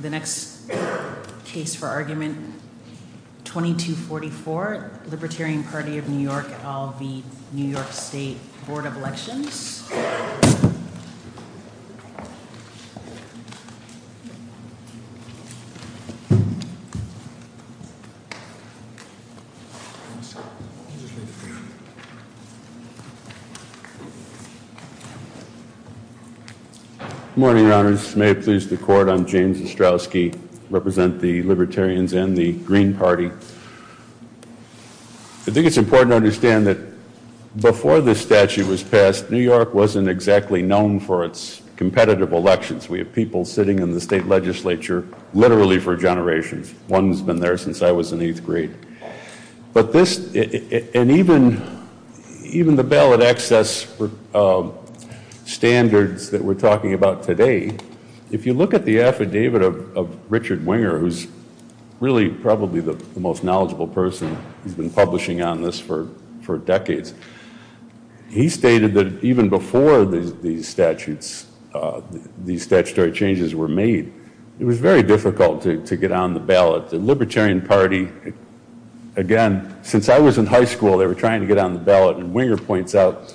The next case for argument 2244 Libertarian Party of New York v. New York State Board of Elections Good morning, Your Honors. May it please the Court, I'm James Ostrowski. I represent the Libertarians and the Green Party. I think it's important to understand that before this statute was passed, New York wasn't exactly known for its competitive elections. We have people sitting in the state legislature literally for generations. One's been there since I was in 8th grade. But this, and even the ballot access standards that we're talking about today, if you look at the affidavit of Richard Winger, who's really probably the most knowledgeable person who's been publishing on this for decades, he stated that even before these statutes, these statutory changes were made, it was very difficult to get on the ballot. The Libertarian Party, again, since I was in high school, they were trying to get on the ballot, and Winger points out,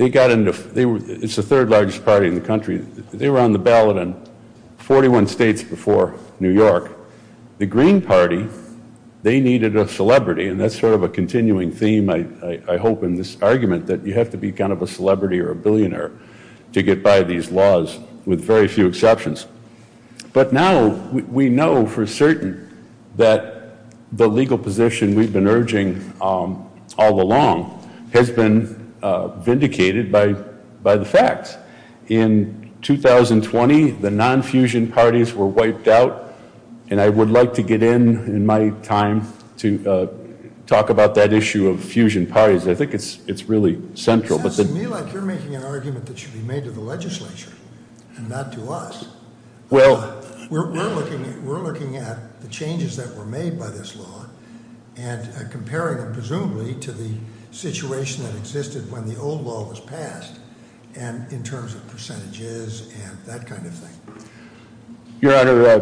it's the third largest party in the country, they were on the ballot in 41 states before New York. The Green Party, they needed a celebrity, and that's sort of a continuing theme, I hope, in this argument, that you have to be kind of a celebrity or a billionaire to get by these laws, with very few exceptions. But now we know for certain that the legal position we've been urging all along has been vindicated by the facts. In 2020, the non-fusion parties were wiped out, and I would like to get in, in my time, to talk about that issue of fusion parties. I think it's really central. It sounds to me like you're making an argument that should be made to the legislature and not to us. We're looking at the changes that were made by this law and comparing them presumably to the situation that existed when the old law was passed, and in terms of percentages and that kind of thing. Your Honor,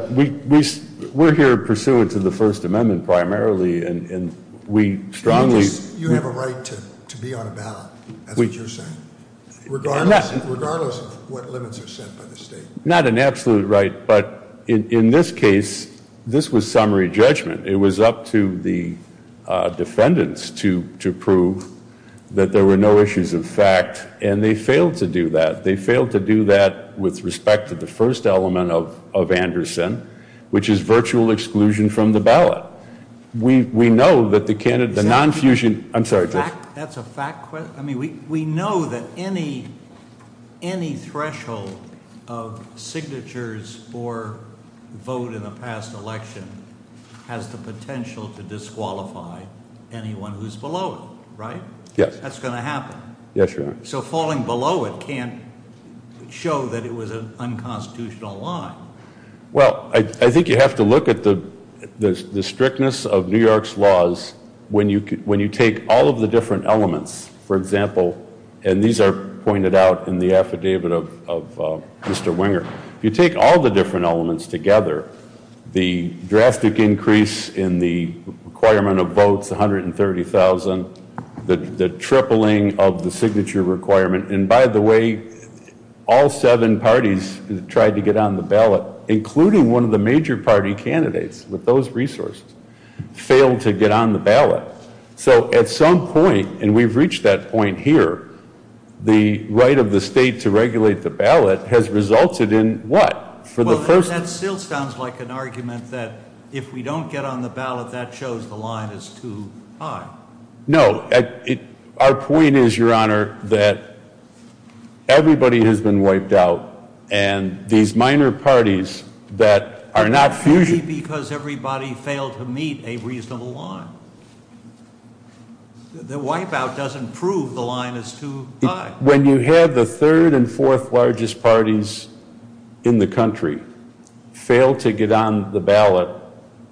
we're here pursuant to the First Amendment primarily, and we strongly- Regardless of what limits are set by the state. Not an absolute right, but in this case, this was summary judgment. It was up to the defendants to prove that there were no issues of fact, and they failed to do that. They failed to do that with respect to the first element of Anderson, which is virtual exclusion from the ballot. We know that the non-fusion, I'm sorry. That's a fact question? I mean, we know that any threshold of signatures for vote in the past election has the potential to disqualify anyone who's below it, right? Yes. That's going to happen. Yes, Your Honor. So falling below it can't show that it was an unconstitutional line. Well, I think you have to look at the strictness of New York's laws when you take all of the different elements, for example, and these are pointed out in the affidavit of Mr. Wenger. You take all the different elements together, the drastic increase in the requirement of votes, 130,000, the tripling of the signature requirement, and by the way, all seven parties tried to get on the ballot, including one of the major party candidates with those resources, failed to get on the ballot. So at some point, and we've reached that point here, the right of the state to regulate the ballot has resulted in what? Well, that still sounds like an argument that if we don't get on the ballot, that shows the line is too high. No. Our point is, Your Honor, that everybody has been wiped out, and these minor parties that are not fusing. Maybe because everybody failed to meet a reasonable line. The wipeout doesn't prove the line is too high. When you have the third and fourth largest parties in the country fail to get on the ballot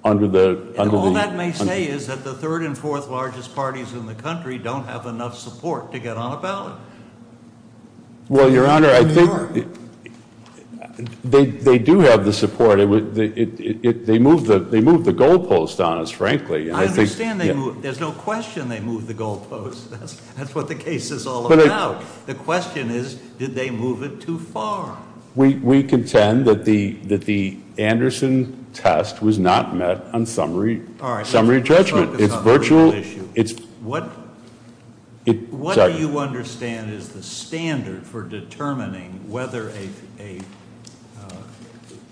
under the... Third and fourth largest parties in the country don't have enough support to get on a ballot. Well, Your Honor, I think they do have the support. They moved the goalpost on us, frankly. I understand they moved. There's no question they moved the goalpost. That's what the case is all about. The question is, did they move it too far? We contend that the Anderson test was not met on summary judgment. It's virtual. What do you understand is the standard for determining whether a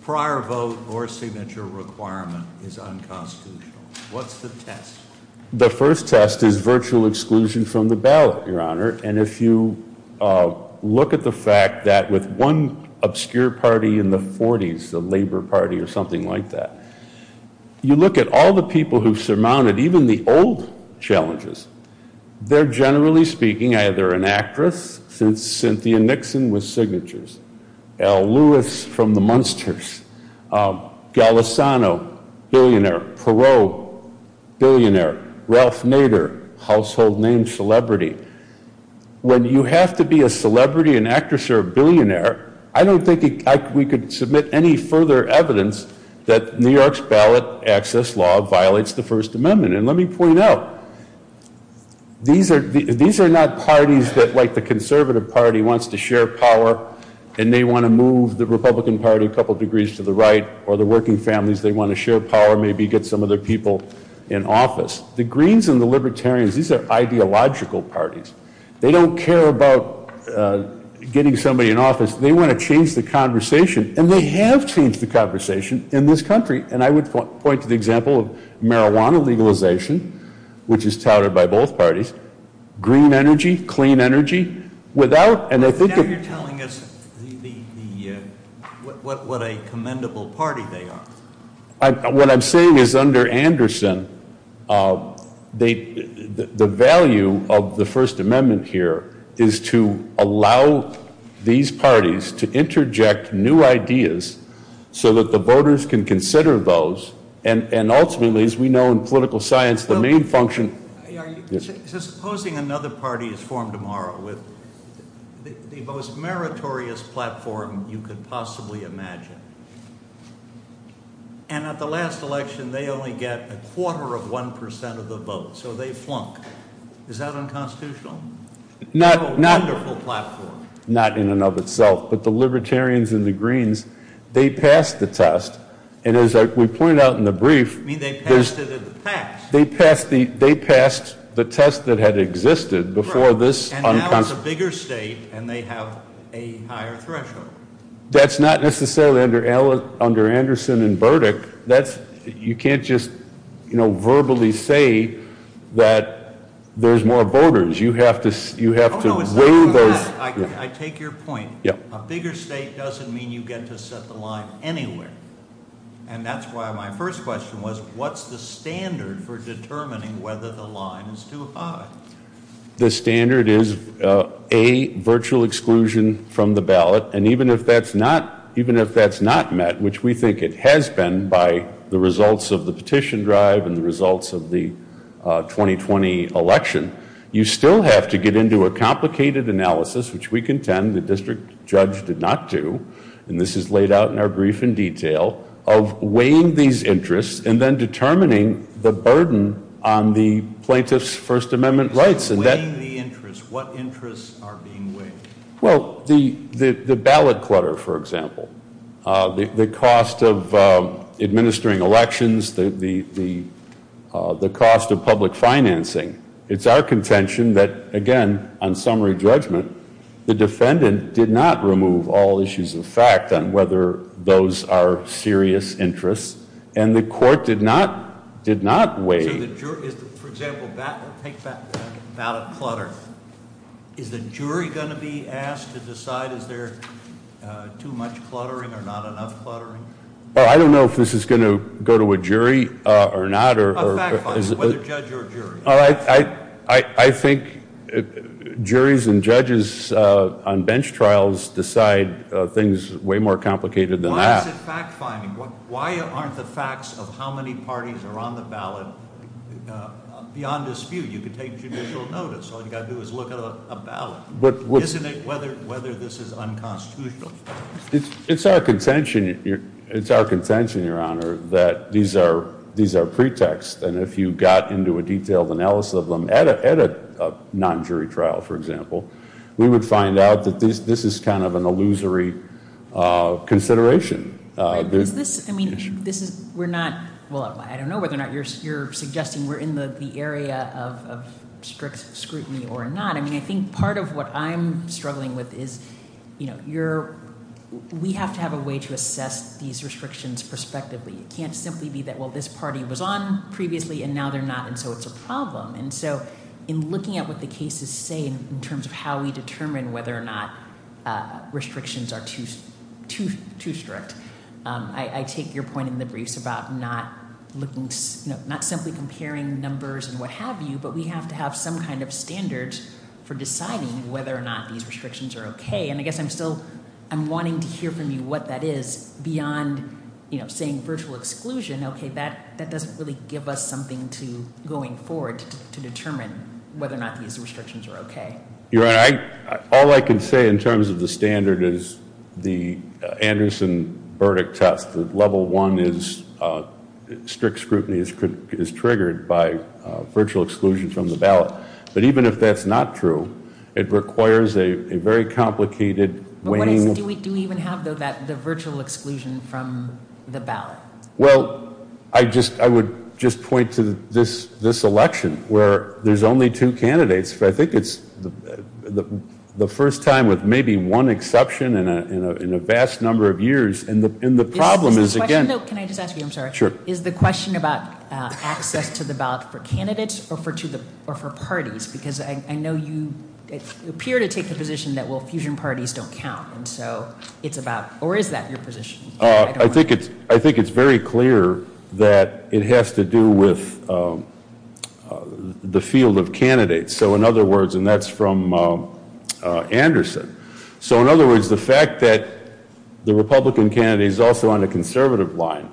prior vote or signature requirement is unconstitutional? What's the test? The first test is virtual exclusion from the ballot, Your Honor. And if you look at the fact that with one obscure party in the 40s, the Labor Party or something like that, you look at all the people who surmounted even the old challenges, they're generally speaking either an actress, since Cynthia Nixon was signatures, Al Lewis from the Munsters, Golisano, billionaire, Perot, billionaire, Ralph Nader, household name celebrity. When you have to be a celebrity, an actress, or a billionaire, I don't think we could submit any further evidence that New York's ballot access law violates the First Amendment. And let me point out, these are not parties that like the conservative party wants to share power and they want to move the Republican Party a couple degrees to the right, or the working families, they want to share power, maybe get some of their people in office. The Greens and the Libertarians, these are ideological parties. They don't care about getting somebody in office, they want to change the conversation, and they have changed the conversation in this country. And I would point to the example of marijuana legalization, which is touted by both parties, green energy, clean energy, without, and I think... Now you're telling us what a commendable party they are. What I'm saying is under Anderson, the value of the First Amendment here is to allow these parties to interject new ideas so that the voters can consider those, and ultimately, as we know in political science, the main function... Supposing another party is formed tomorrow with the most meritorious platform you could possibly imagine, and at the last election they only get a quarter of one percent of the vote, so they flunk. Is that unconstitutional? Not in and of itself, but the Libertarians and the Greens, they passed the test, and as we pointed out in the brief... I mean, they passed it in the past. They passed the test that had existed before this... And now it's a bigger state, and they have a higher threshold. That's not necessarily under Anderson and Burdick. You can't just verbally say that there's more voters. You have to weigh those... I take your point. A bigger state doesn't mean you get to set the line anywhere. And that's why my first question was, what's the standard for determining whether the line is too high? The standard is, A, virtual exclusion from the ballot, and even if that's not met, which we think it has been by the results of the petition drive and the results of the 2020 election, you still have to get into a complicated analysis, which we contend the district judge did not do, and this is laid out in our brief in detail, of weighing these interests and then determining the burden on the plaintiff's First Amendment rights. So weighing the interests, what interests are being weighed? Well, the ballot clutter, for example, the cost of administering elections, the cost of public financing. It's our contention that, again, on summary judgment, the defendant did not remove all issues of fact on whether those are serious interests, and the court did not weigh... For example, take ballot clutter. Is the jury going to be asked to decide is there too much cluttering or not enough cluttering? I don't know if this is going to go to a jury or not. A fact finding, whether judge or jury. I think juries and judges on bench trials decide things way more complicated than that. Why is it fact finding? Why aren't the facts of how many parties are on the ballot beyond dispute? You could take judicial notice. All you've got to do is look at a ballot. Isn't it whether this is unconstitutional? It's our contention, Your Honor, that these are pretexts, and if you got into a detailed analysis of them at a non-jury trial, for example, we would find out that this is kind of an illusory consideration. Is this, I mean, this is, we're not, well, I don't know whether or not you're suggesting we're in the area of strict scrutiny or not. I mean, I think part of what I'm struggling with is we have to have a way to assess these restrictions prospectively. It can't simply be that, well, this party was on previously and now they're not, and so it's a problem. And so in looking at what the cases say in terms of how we determine whether or not restrictions are too strict, I take your point in the briefs about not simply comparing numbers and what have you, but we have to have some kind of standard for deciding whether or not these restrictions are okay. And I guess I'm still, I'm wanting to hear from you what that is beyond, you know, saying virtual exclusion. Okay, that doesn't really give us something to, going forward, to determine whether or not these restrictions are okay. Your Honor, all I can say in terms of the standard is the Anderson verdict test, the level one is strict scrutiny is triggered by virtual exclusion from the ballot. But even if that's not true, it requires a very complicated way. Do we even have, though, the virtual exclusion from the ballot? Well, I would just point to this election where there's only two candidates. I think it's the first time with maybe one exception in a vast number of years. And the problem is, again- Can I just ask you, I'm sorry? Sure. Is the question about access to the ballot for candidates or for parties? Because I know you appear to take the position that, well, fusion parties don't count. And so it's about, or is that your position? I think it's very clear that it has to do with the field of candidates. So in other words, and that's from Anderson. So in other words, the fact that the Republican candidate is also on a conservative line,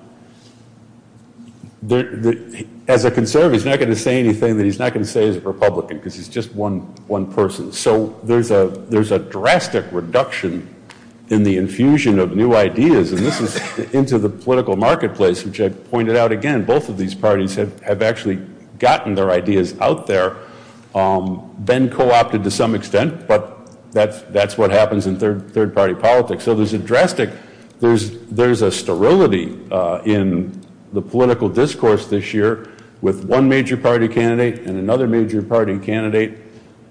as a conservative he's not going to say anything that he's not going to say as a Republican, because he's just one person. So there's a drastic reduction in the infusion of new ideas, and this is into the political marketplace, which I pointed out again, both of these parties have actually gotten their ideas out there, been co-opted to some extent, but that's what happens in third party politics. So there's a drastic, there's a sterility in the political discourse this year, with one major party candidate and another major party candidate,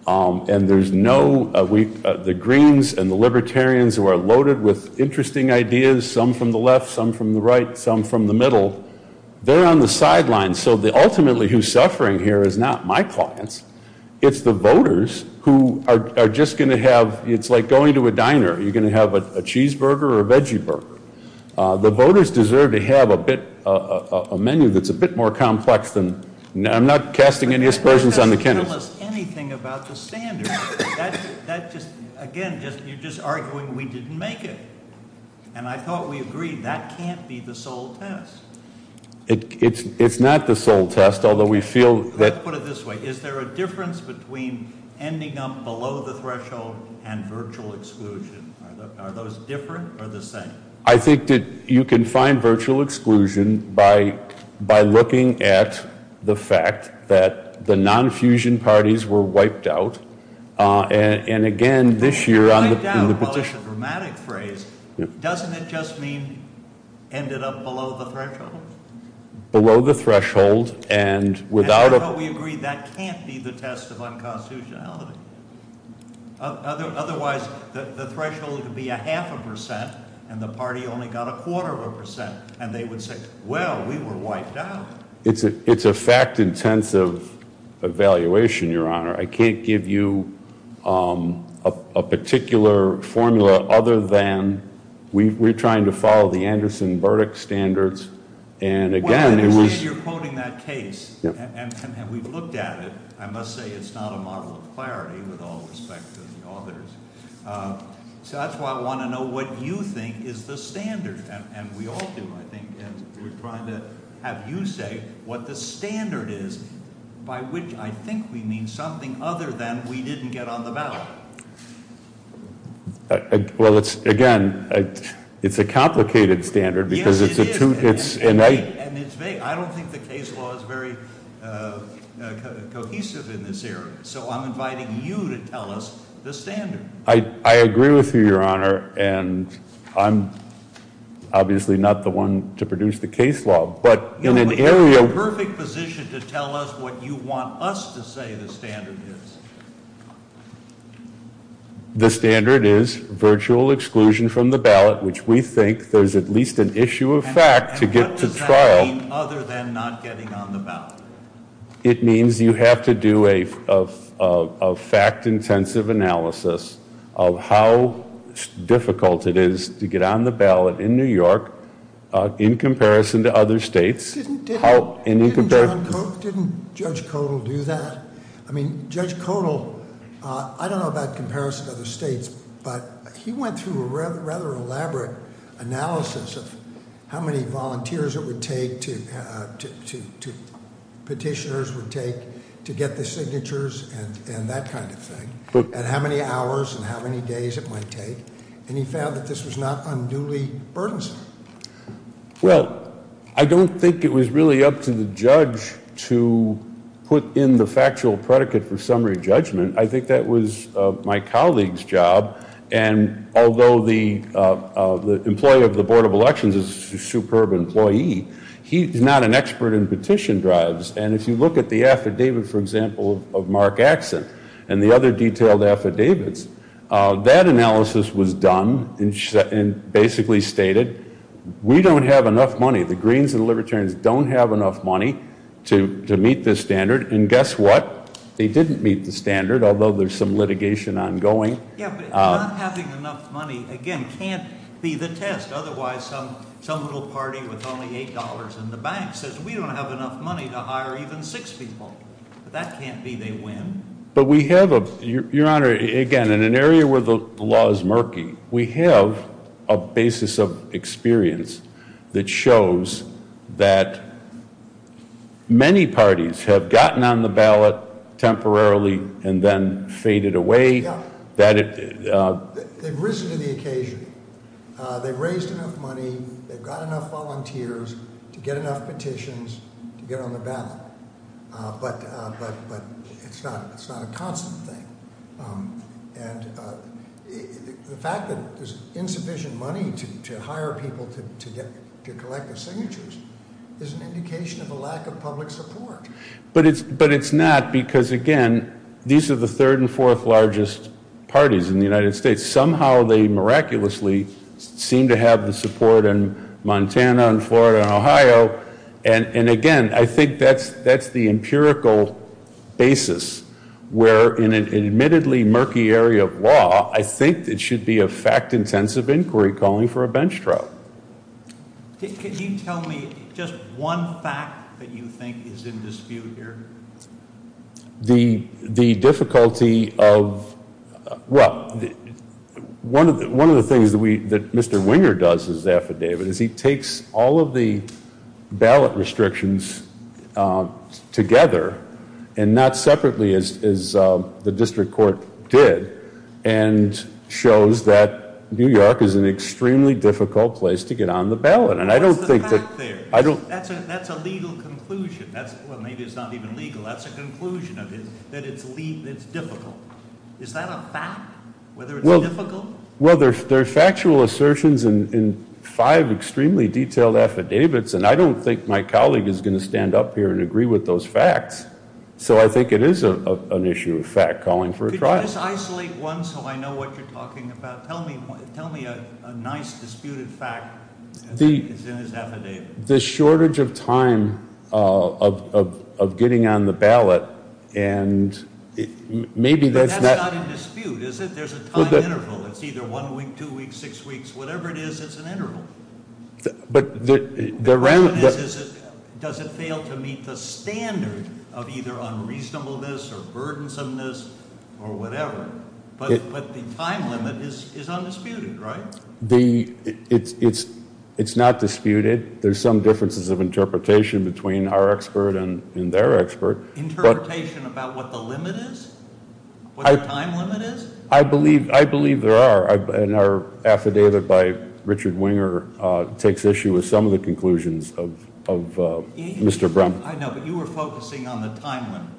and there's no, the Greens and the Libertarians who are loaded with interesting ideas, some from the left, some from the right, some from the middle, they're on the sidelines. So ultimately who's suffering here is not my clients, it's the voters who are just going to have, it's like going to a diner, are you going to have a cheeseburger or a veggie burger? The voters deserve to have a menu that's a bit more complex than, I'm not casting any aspersions on the candidates. But that doesn't tell us anything about the standards. That just, again, you're just arguing we didn't make it, and I thought we agreed that can't be the sole test. It's not the sole test, although we feel that. Let's put it this way. Is there a difference between ending up below the threshold and virtual exclusion? Are those different or the same? I think that you can find virtual exclusion by looking at the fact that the non-fusion parties were wiped out, and again this year on the petition. Wiped out, well, it's a dramatic phrase. Doesn't it just mean ended up below the threshold? Below the threshold, and without a- And I thought we agreed that can't be the test of unconstitutionality. Otherwise, the threshold would be a half a percent, and the party only got a quarter of a percent, and they would say, well, we were wiped out. It's a fact-intensive evaluation, Your Honor. I can't give you a particular formula other than we're trying to follow the Anderson verdict standards, and again it was- Well, I understand you're quoting that case, and we've looked at it. I must say it's not a model of clarity with all respect to the others. So that's why I want to know what you think is the standard, and we all do, I think, and we're trying to have you say what the standard is by which I think we mean something other than we didn't get on the ballot. Well, again, it's a complicated standard because it's a- Yes, it is, and it's vague. I don't think the case law is very cohesive in this area, so I'm inviting you to tell us the standard. I agree with you, Your Honor, and I'm obviously not the one to produce the case law, but in an area- You're in perfect position to tell us what you want us to say the standard is. The standard is virtual exclusion from the ballot, which we think there's at least an issue of fact to get to trial. And what does that mean other than not getting on the ballot? It means you have to do a fact-intensive analysis of how difficult it is to get on the ballot in New York in comparison to other states. Didn't Judge Codal do that? I mean, Judge Codal, I don't know about comparison to other states, but he went through a rather elaborate analysis of how many volunteers it would take to petitioners would take to get the signatures and that kind of thing. And how many hours and how many days it might take. And he found that this was not unduly burdensome. Well, I don't think it was really up to the judge to put in the factual predicate for summary judgment. I think that was my colleague's job. And although the employee of the Board of Elections is a superb employee, he's not an expert in petition drives. And if you look at the affidavit, for example, of Mark Axson and the other detailed affidavits, that analysis was done and basically stated we don't have enough money. The Greens and Libertarians don't have enough money to meet this standard. And guess what? They didn't meet the standard, although there's some litigation ongoing. Yeah, but not having enough money, again, can't be the test. Otherwise, some little party with only $8 in the bank says we don't have enough money to hire even six people. That can't be they win. But we have a, Your Honor, again, in an area where the law is murky, we have a basis of experience that shows that many parties have gotten on the ballot temporarily and then faded away. They've risen to the occasion. They've raised enough money. They've got enough volunteers to get enough petitions to get on the ballot. But it's not a constant thing. And the fact that there's insufficient money to hire people to collect the signatures is an indication of a lack of public support. But it's not because, again, these are the third and fourth largest parties in the United States. Somehow they miraculously seem to have the support in Montana and Florida and Ohio. And, again, I think that's the empirical basis where in an admittedly murky area of law, I think it should be a fact-intensive inquiry calling for a bench trial. Can you tell me just one fact that you think is in dispute here? The difficulty of, well, one of the things that Mr. Winger does in his affidavit is he takes all of the ballot restrictions together and not separately as the district court did and shows that New York is an extremely difficult place to get on the ballot. What's the fact there? That's a legal conclusion. Well, maybe it's not even legal. That's a conclusion that it's difficult. Is that a fact, whether it's difficult? Well, there are factual assertions in five extremely detailed affidavits, and I don't think my colleague is going to stand up here and agree with those facts. So I think it is an issue of fact calling for a trial. Could you just isolate one so I know what you're talking about? Tell me a nice disputed fact that's in his affidavit. The shortage of time of getting on the ballot and maybe that's not – But that's not in dispute, is it? There's a time interval. It's either one week, two weeks, six weeks. Whatever it is, it's an interval. The question is, does it fail to meet the standard of either unreasonableness or burdensomeness or whatever? But the time limit is undisputed, right? It's not disputed. There's some differences of interpretation between our expert and their expert. Interpretation about what the limit is? What the time limit is? I believe there are, and our affidavit by Richard Winger takes issue with some of the conclusions of Mr. Brum. I know, but you were focusing on the time limit.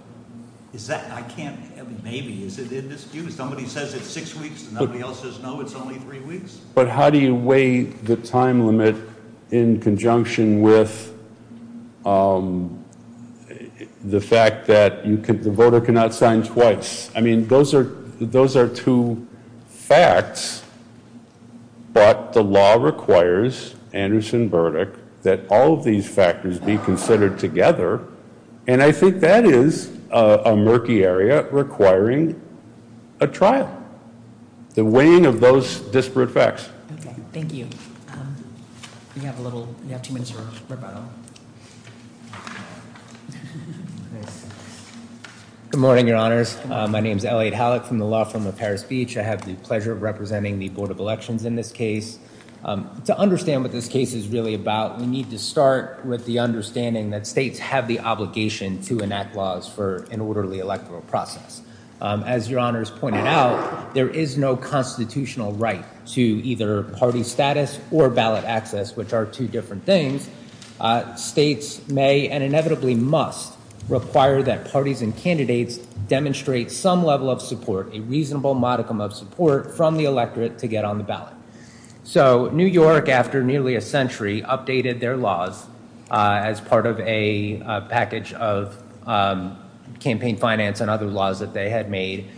Is that – I can't – maybe. Is it in dispute? If somebody says it's six weeks and nobody else says no, it's only three weeks? But how do you weigh the time limit in conjunction with the fact that the voter cannot sign twice? I mean, those are two facts, but the law requires, Anderson verdict, that all of these factors be considered together, and I think that is a murky area requiring a trial, the weighing of those disparate facts. Okay. Thank you. We have a little – we have two minutes for rebuttal. Good morning, Your Honors. My name is Elliot Hallock from the law firm of Paris Beach. I have the pleasure of representing the Board of Elections in this case. To understand what this case is really about, we need to start with the understanding that states have the obligation to enact laws for an orderly electoral process. As Your Honors pointed out, there is no constitutional right to either party status or ballot access, which are two different things. States may and inevitably must require that parties and candidates demonstrate some level of support, a reasonable modicum of support from the electorate to get on the ballot. So New York, after nearly a century, updated their laws as part of a package of campaign finance and other laws that they had made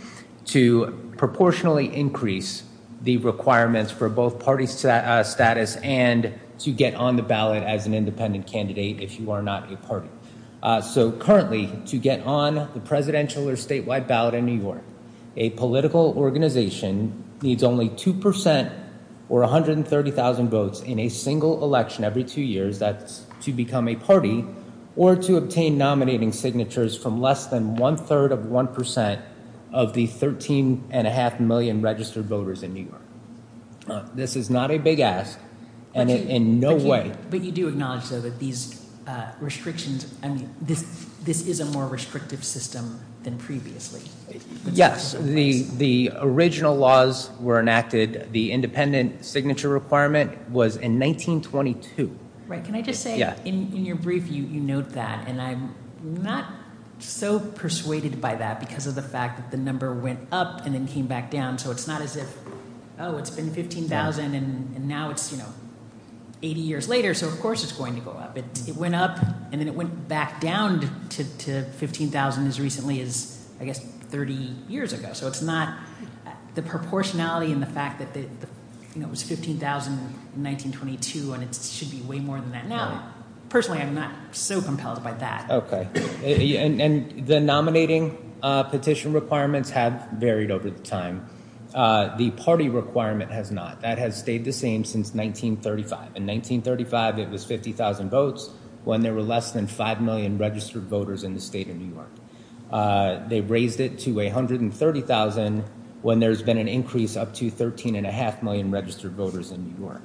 to proportionally increase the requirements for both party status and to get on the ballot as an independent candidate if you are not a party. So currently, to get on the presidential or statewide ballot in New York, a political organization needs only 2 percent or 130,000 votes in a single election every two years to become a party or to obtain nominating signatures from less than one-third of 1 percent of the 13.5 million registered voters in New York. This is not a big ask, and in no way... But you do acknowledge, though, that these restrictions, I mean, this is a more restrictive system than previously. Yes, the original laws were enacted, the independent signature requirement was in 1922. Right. Can I just say, in your brief, you note that, and I'm not so persuaded by that because of the fact that the number went up and then came back down. So it's not as if, oh, it's been 15,000 and now it's 80 years later, so of course it's going to go up. It went up and then it went back down to 15,000 as recently as, I guess, 30 years ago. So it's not the proportionality in the fact that it was 15,000 in 1922 and it should be way more than that now. Personally, I'm not so compelled by that. Okay. And the nominating petition requirements have varied over time. The party requirement has not. That has stayed the same since 1935. In 1935, it was 50,000 votes when there were less than 5 million registered voters in the state of New York. They raised it to 130,000 when there's been an increase up to 13.5 million registered voters in New York.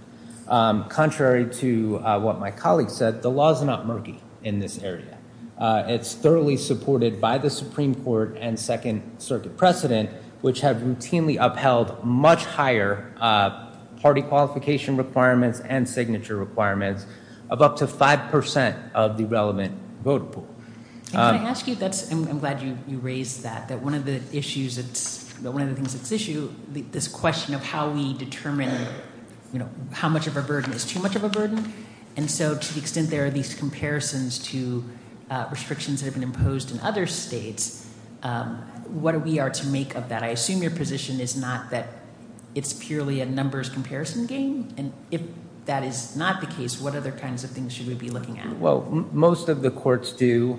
Contrary to what my colleague said, the law is not murky in this area. It's thoroughly supported by the Supreme Court and Second Circuit precedent, which have routinely upheld much higher party qualification requirements and signature requirements of up to 5% of the relevant voter pool. Can I ask you, I'm glad you raised that, that one of the things at issue, this question of how we determine how much of a burden is too much of a burden, and so to the extent there are these comparisons to restrictions that have been imposed in other states, what we are to make of that? I assume your position is not that it's purely a numbers comparison game, and if that is not the case, what other kinds of things should we be looking at? Well, most of the courts do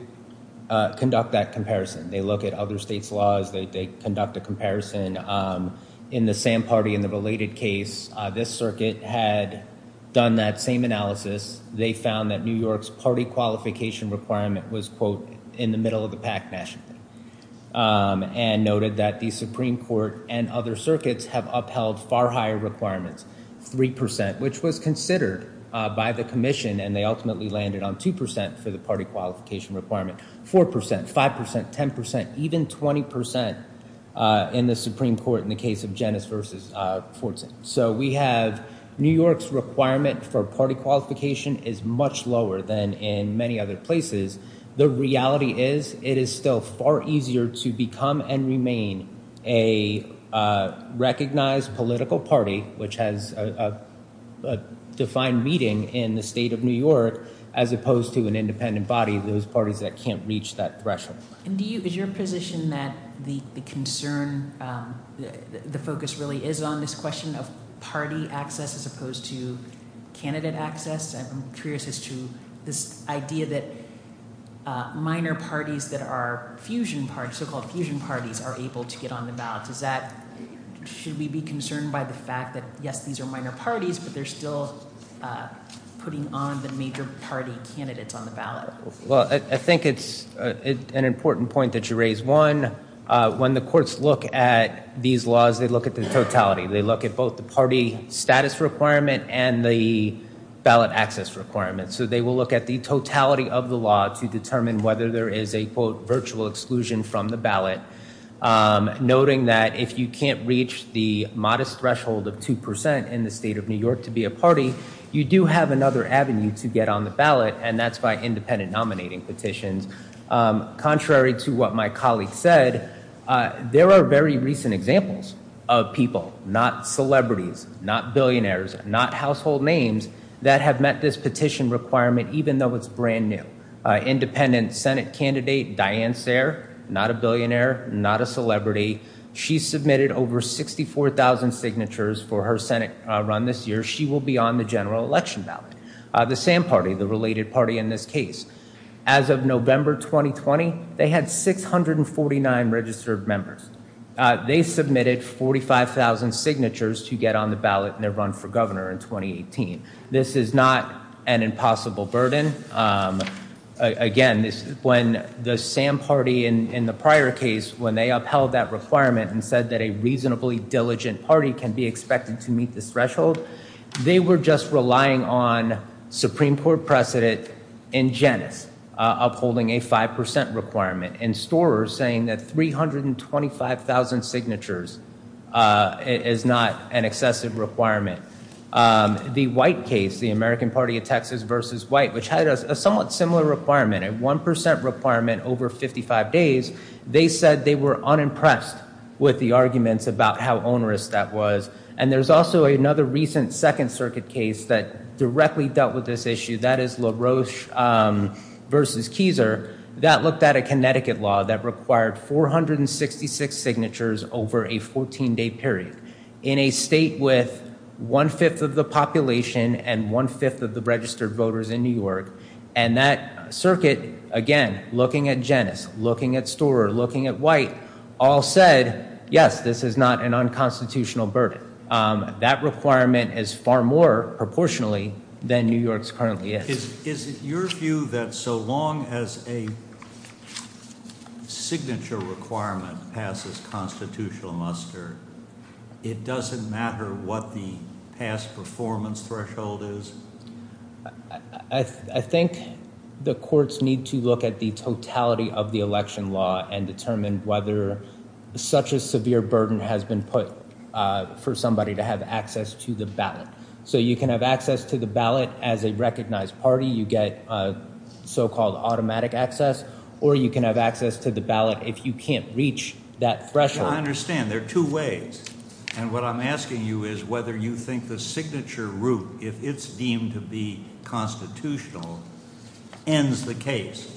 conduct that comparison. They look at other states' laws. They conduct a comparison in the same party in the related case. This circuit had done that same analysis. They found that New York's party qualification requirement was, quote, in the middle of the pack nationally and noted that the Supreme Court and other circuits have upheld far higher requirements, 3%, which was considered by the commission, and they ultimately landed on 2% for the party qualification requirement, 4%, 5%, 10%, even 20% in the Supreme Court in the case of Janus v. Fortson. So we have New York's requirement for party qualification is much lower than in many other places. The reality is it is still far easier to become and remain a recognized political party, which has a defined meeting in the state of New York, as opposed to an independent body, those parties that can't reach that threshold. Is your position that the concern, the focus really is on this question of party access as opposed to candidate access? I'm curious as to this idea that minor parties that are fusion parties, so-called fusion parties, are able to get on the ballot. Should we be concerned by the fact that, yes, these are minor parties, but they're still putting on the major party candidates on the ballot? Well, I think it's an important point that you raise. One, when the courts look at these laws, they look at the totality. They look at both the party status requirement and the ballot access requirement. So they will look at the totality of the law to determine whether there is a, quote, virtual exclusion from the ballot, noting that if you can't reach the modest threshold of 2% in the state of New York to be a party, you do have another avenue to get on the ballot, and that's by independent nominating petitions. Contrary to what my colleague said, there are very recent examples of people, not celebrities, not billionaires, not household names that have met this petition requirement, even though it's brand new. Independent Senate candidate Diane Sayre, not a billionaire, not a celebrity, she submitted over 64,000 signatures for her Senate run this year. She will be on the general election ballot. The SAM party, the related party in this case, as of November 2020, they had 649 registered members. They submitted 45,000 signatures to get on the ballot in their run for governor in 2018. This is not an impossible burden. Again, when the SAM party in the prior case, when they upheld that requirement and said that a reasonably diligent party can be expected to meet this threshold, they were just relying on Supreme Court precedent in Janus upholding a 5% requirement and Storer saying that 325,000 signatures is not an excessive requirement. The White case, the American Party of Texas versus White, which had a somewhat similar requirement, a 1% requirement over 55 days, they said they were unimpressed with the arguments about how onerous that was. And there's also another recent Second Circuit case that directly dealt with this issue. That is LaRoche versus Keiser. That looked at a Connecticut law that required 466 signatures over a 14-day period. In a state with one-fifth of the population and one-fifth of the registered voters in New York. And that circuit, again, looking at Janus, looking at Storer, looking at White, all said, yes, this is not an unconstitutional burden. That requirement is far more proportionally than New York's currently is. Is it your view that so long as a signature requirement passes constitutional muster, it doesn't matter what the past performance threshold is? I think the courts need to look at the totality of the election law and determine whether such a severe burden has been put for somebody to have access to the ballot. So you can have access to the ballot as a recognized party. You get so-called automatic access. Or you can have access to the ballot if you can't reach that threshold. I understand. There are two ways. And what I'm asking you is whether you think the signature route, if it's deemed to be constitutional, ends the case.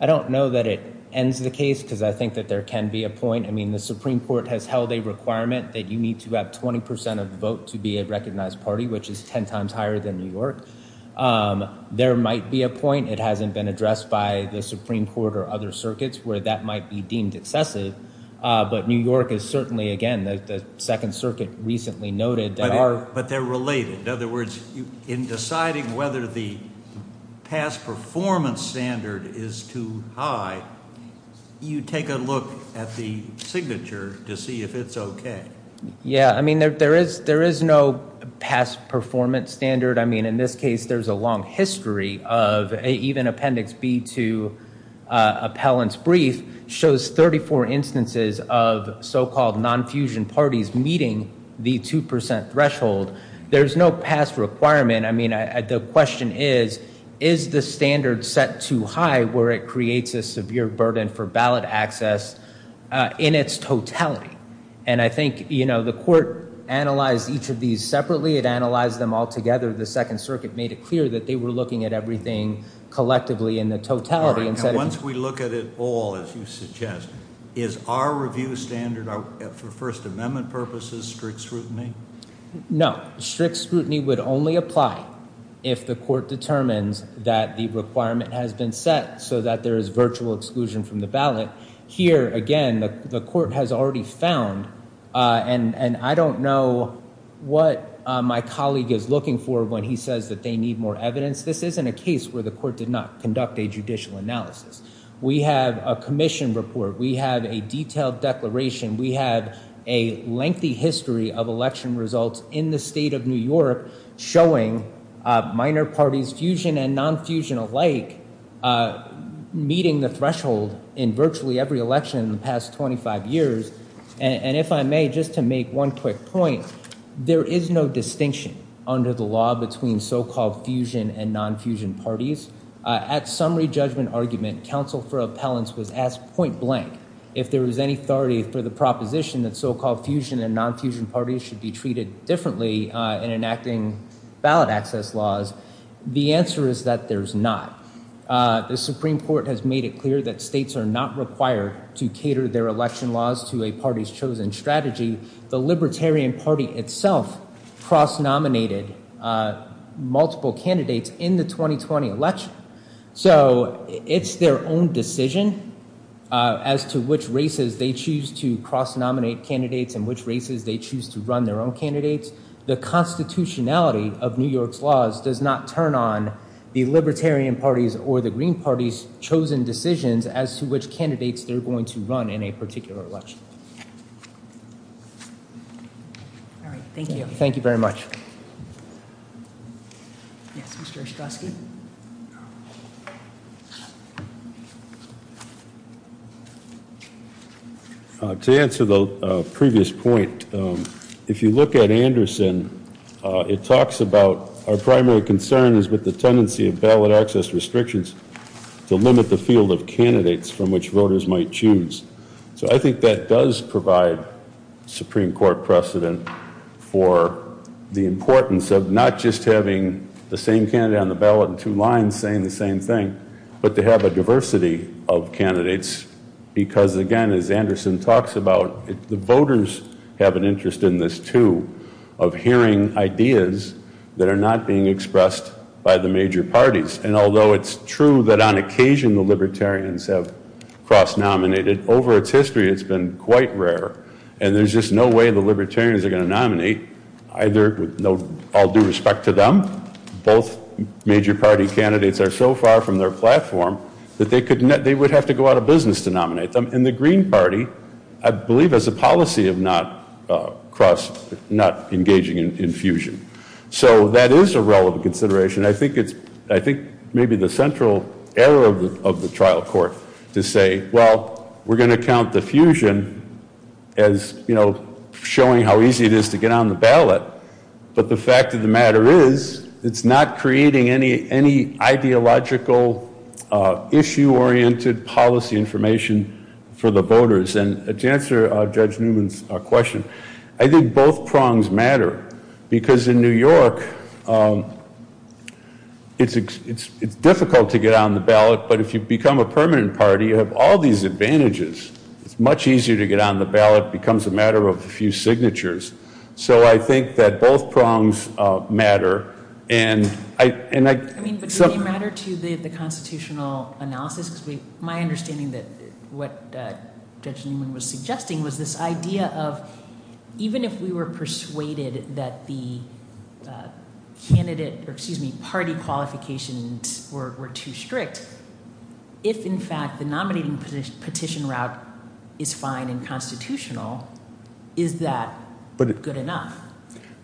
I don't know that it ends the case because I think that there can be a point. I mean, the Supreme Court has held a requirement that you need to have 20 percent of the vote to be a recognized party, which is 10 times higher than New York. There might be a point. It hasn't been addressed by the Supreme Court or other circuits where that might be deemed excessive. But New York is certainly, again, the Second Circuit recently noted. But they're related. In other words, in deciding whether the past performance standard is too high, you take a look at the signature to see if it's okay. Yeah, I mean, there is no past performance standard. I mean, in this case, there's a long history of even Appendix B to appellant's brief shows 34 instances of so-called non-fusion parties meeting the 2 percent threshold. There's no past requirement. I mean, the question is, is the standard set too high where it creates a severe burden for ballot access in its totality? And I think, you know, the court analyzed each of these separately. It analyzed them all together. The Second Circuit made it clear that they were looking at everything collectively in the totality. Once we look at it all, as you suggest, is our review standard for First Amendment purposes strict scrutiny? No. Strict scrutiny would only apply if the court determines that the requirement has been set so that there is virtual exclusion from the ballot. Here, again, the court has already found, and I don't know what my colleague is looking for when he says that they need more evidence. This isn't a case where the court did not conduct a judicial analysis. We have a commission report. We have a detailed declaration. We have a lengthy history of election results in the state of New York showing minor parties, fusion and non-fusion alike, meeting the threshold in virtually every election in the past 25 years. And if I may, just to make one quick point, there is no distinction under the law between so-called fusion and non-fusion parties. At summary judgment argument, counsel for appellants was asked point blank if there was any authority for the proposition that so-called fusion and non-fusion parties should be treated differently in enacting ballot access laws. The answer is that there's not. The Supreme Court has made it clear that states are not required to cater their election laws to a party's chosen strategy. The Libertarian Party itself cross-nominated multiple candidates in the 2020 election. So it's their own decision as to which races they choose to cross-nominate candidates and which races they choose to run their own candidates. The constitutionality of New York's laws does not turn on the Libertarian Party's or the Green Party's chosen decisions as to which candidates they're going to run in a particular election. All right. Thank you. Thank you very much. Yes, Mr. Ostrowski. To answer the previous point, if you look at Anderson, it talks about our primary concern is with the tendency of ballot access restrictions to limit the field of candidates from which voters might choose. So I think that does provide Supreme Court precedent for the importance of not just having the same candidate on the ballot in two lines saying the same thing, but to have a diversity of candidates because, again, as Anderson talks about, the voters have an interest in this, too, of hearing ideas that are not being expressed by the major parties. And although it's true that on occasion the Libertarians have cross-nominated, over its history it's been quite rare. And there's just no way the Libertarians are going to nominate either with all due respect to them. Both major party candidates are so far from their platform that they would have to go out of business to nominate them. And the Green Party, I believe, has a policy of not engaging in fusion. So that is a relevant consideration. I think maybe the central error of the trial court to say, well, we're going to count the fusion as showing how easy it is to get on the ballot. But the fact of the matter is it's not creating any ideological issue-oriented policy information for the voters. And to answer Judge Newman's question, I think both prongs matter because in New York it's difficult to get on the ballot, but if you become a permanent party you have all these advantages. It's much easier to get on the ballot. It becomes a matter of a few signatures. So I think that both prongs matter. But does it matter to the constitutional analysis? Because my understanding of what Judge Newman was suggesting was this idea of even if we were persuaded that the party qualifications were too strict, if in fact the nominating petition route is fine and constitutional, is that good enough?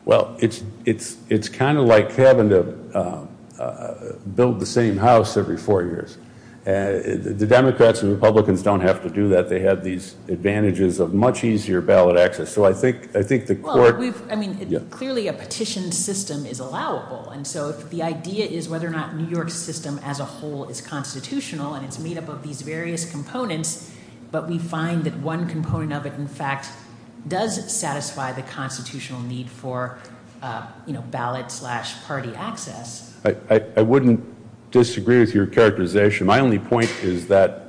Well, it's kind of like having to build the same house every four years. The Democrats and Republicans don't have to do that. They have these advantages of much easier ballot access. So I think the court- Well, I mean, clearly a petition system is allowable. And so the idea is whether or not New York's system as a whole is constitutional, and it's made up of these various components. But we find that one component of it, in fact, does satisfy the constitutional need for ballot-slash-party access. I wouldn't disagree with your characterization. My only point is that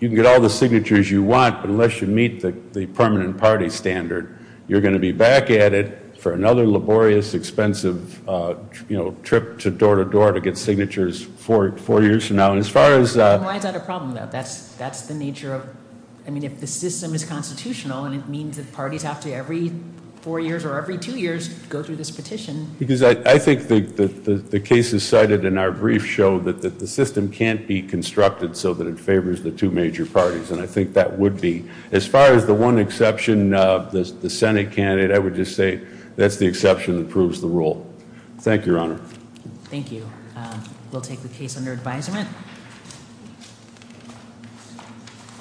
you can get all the signatures you want, but unless you meet the permanent party standard, you're going to be back at it for another laborious, expensive trip to door-to-door to get signatures four years from now. Why is that a problem, though? That's the nature of- I mean, if the system is constitutional and it means that parties have to, every four years or every two years, go through this petition- Because I think the cases cited in our brief show that the system can't be constructed so that it favors the two major parties. And I think that would be- as far as the one exception, the Senate candidate, I would just say that's the exception that proves the rule. Thank you, Your Honor. Thank you. We'll take the case under advisement.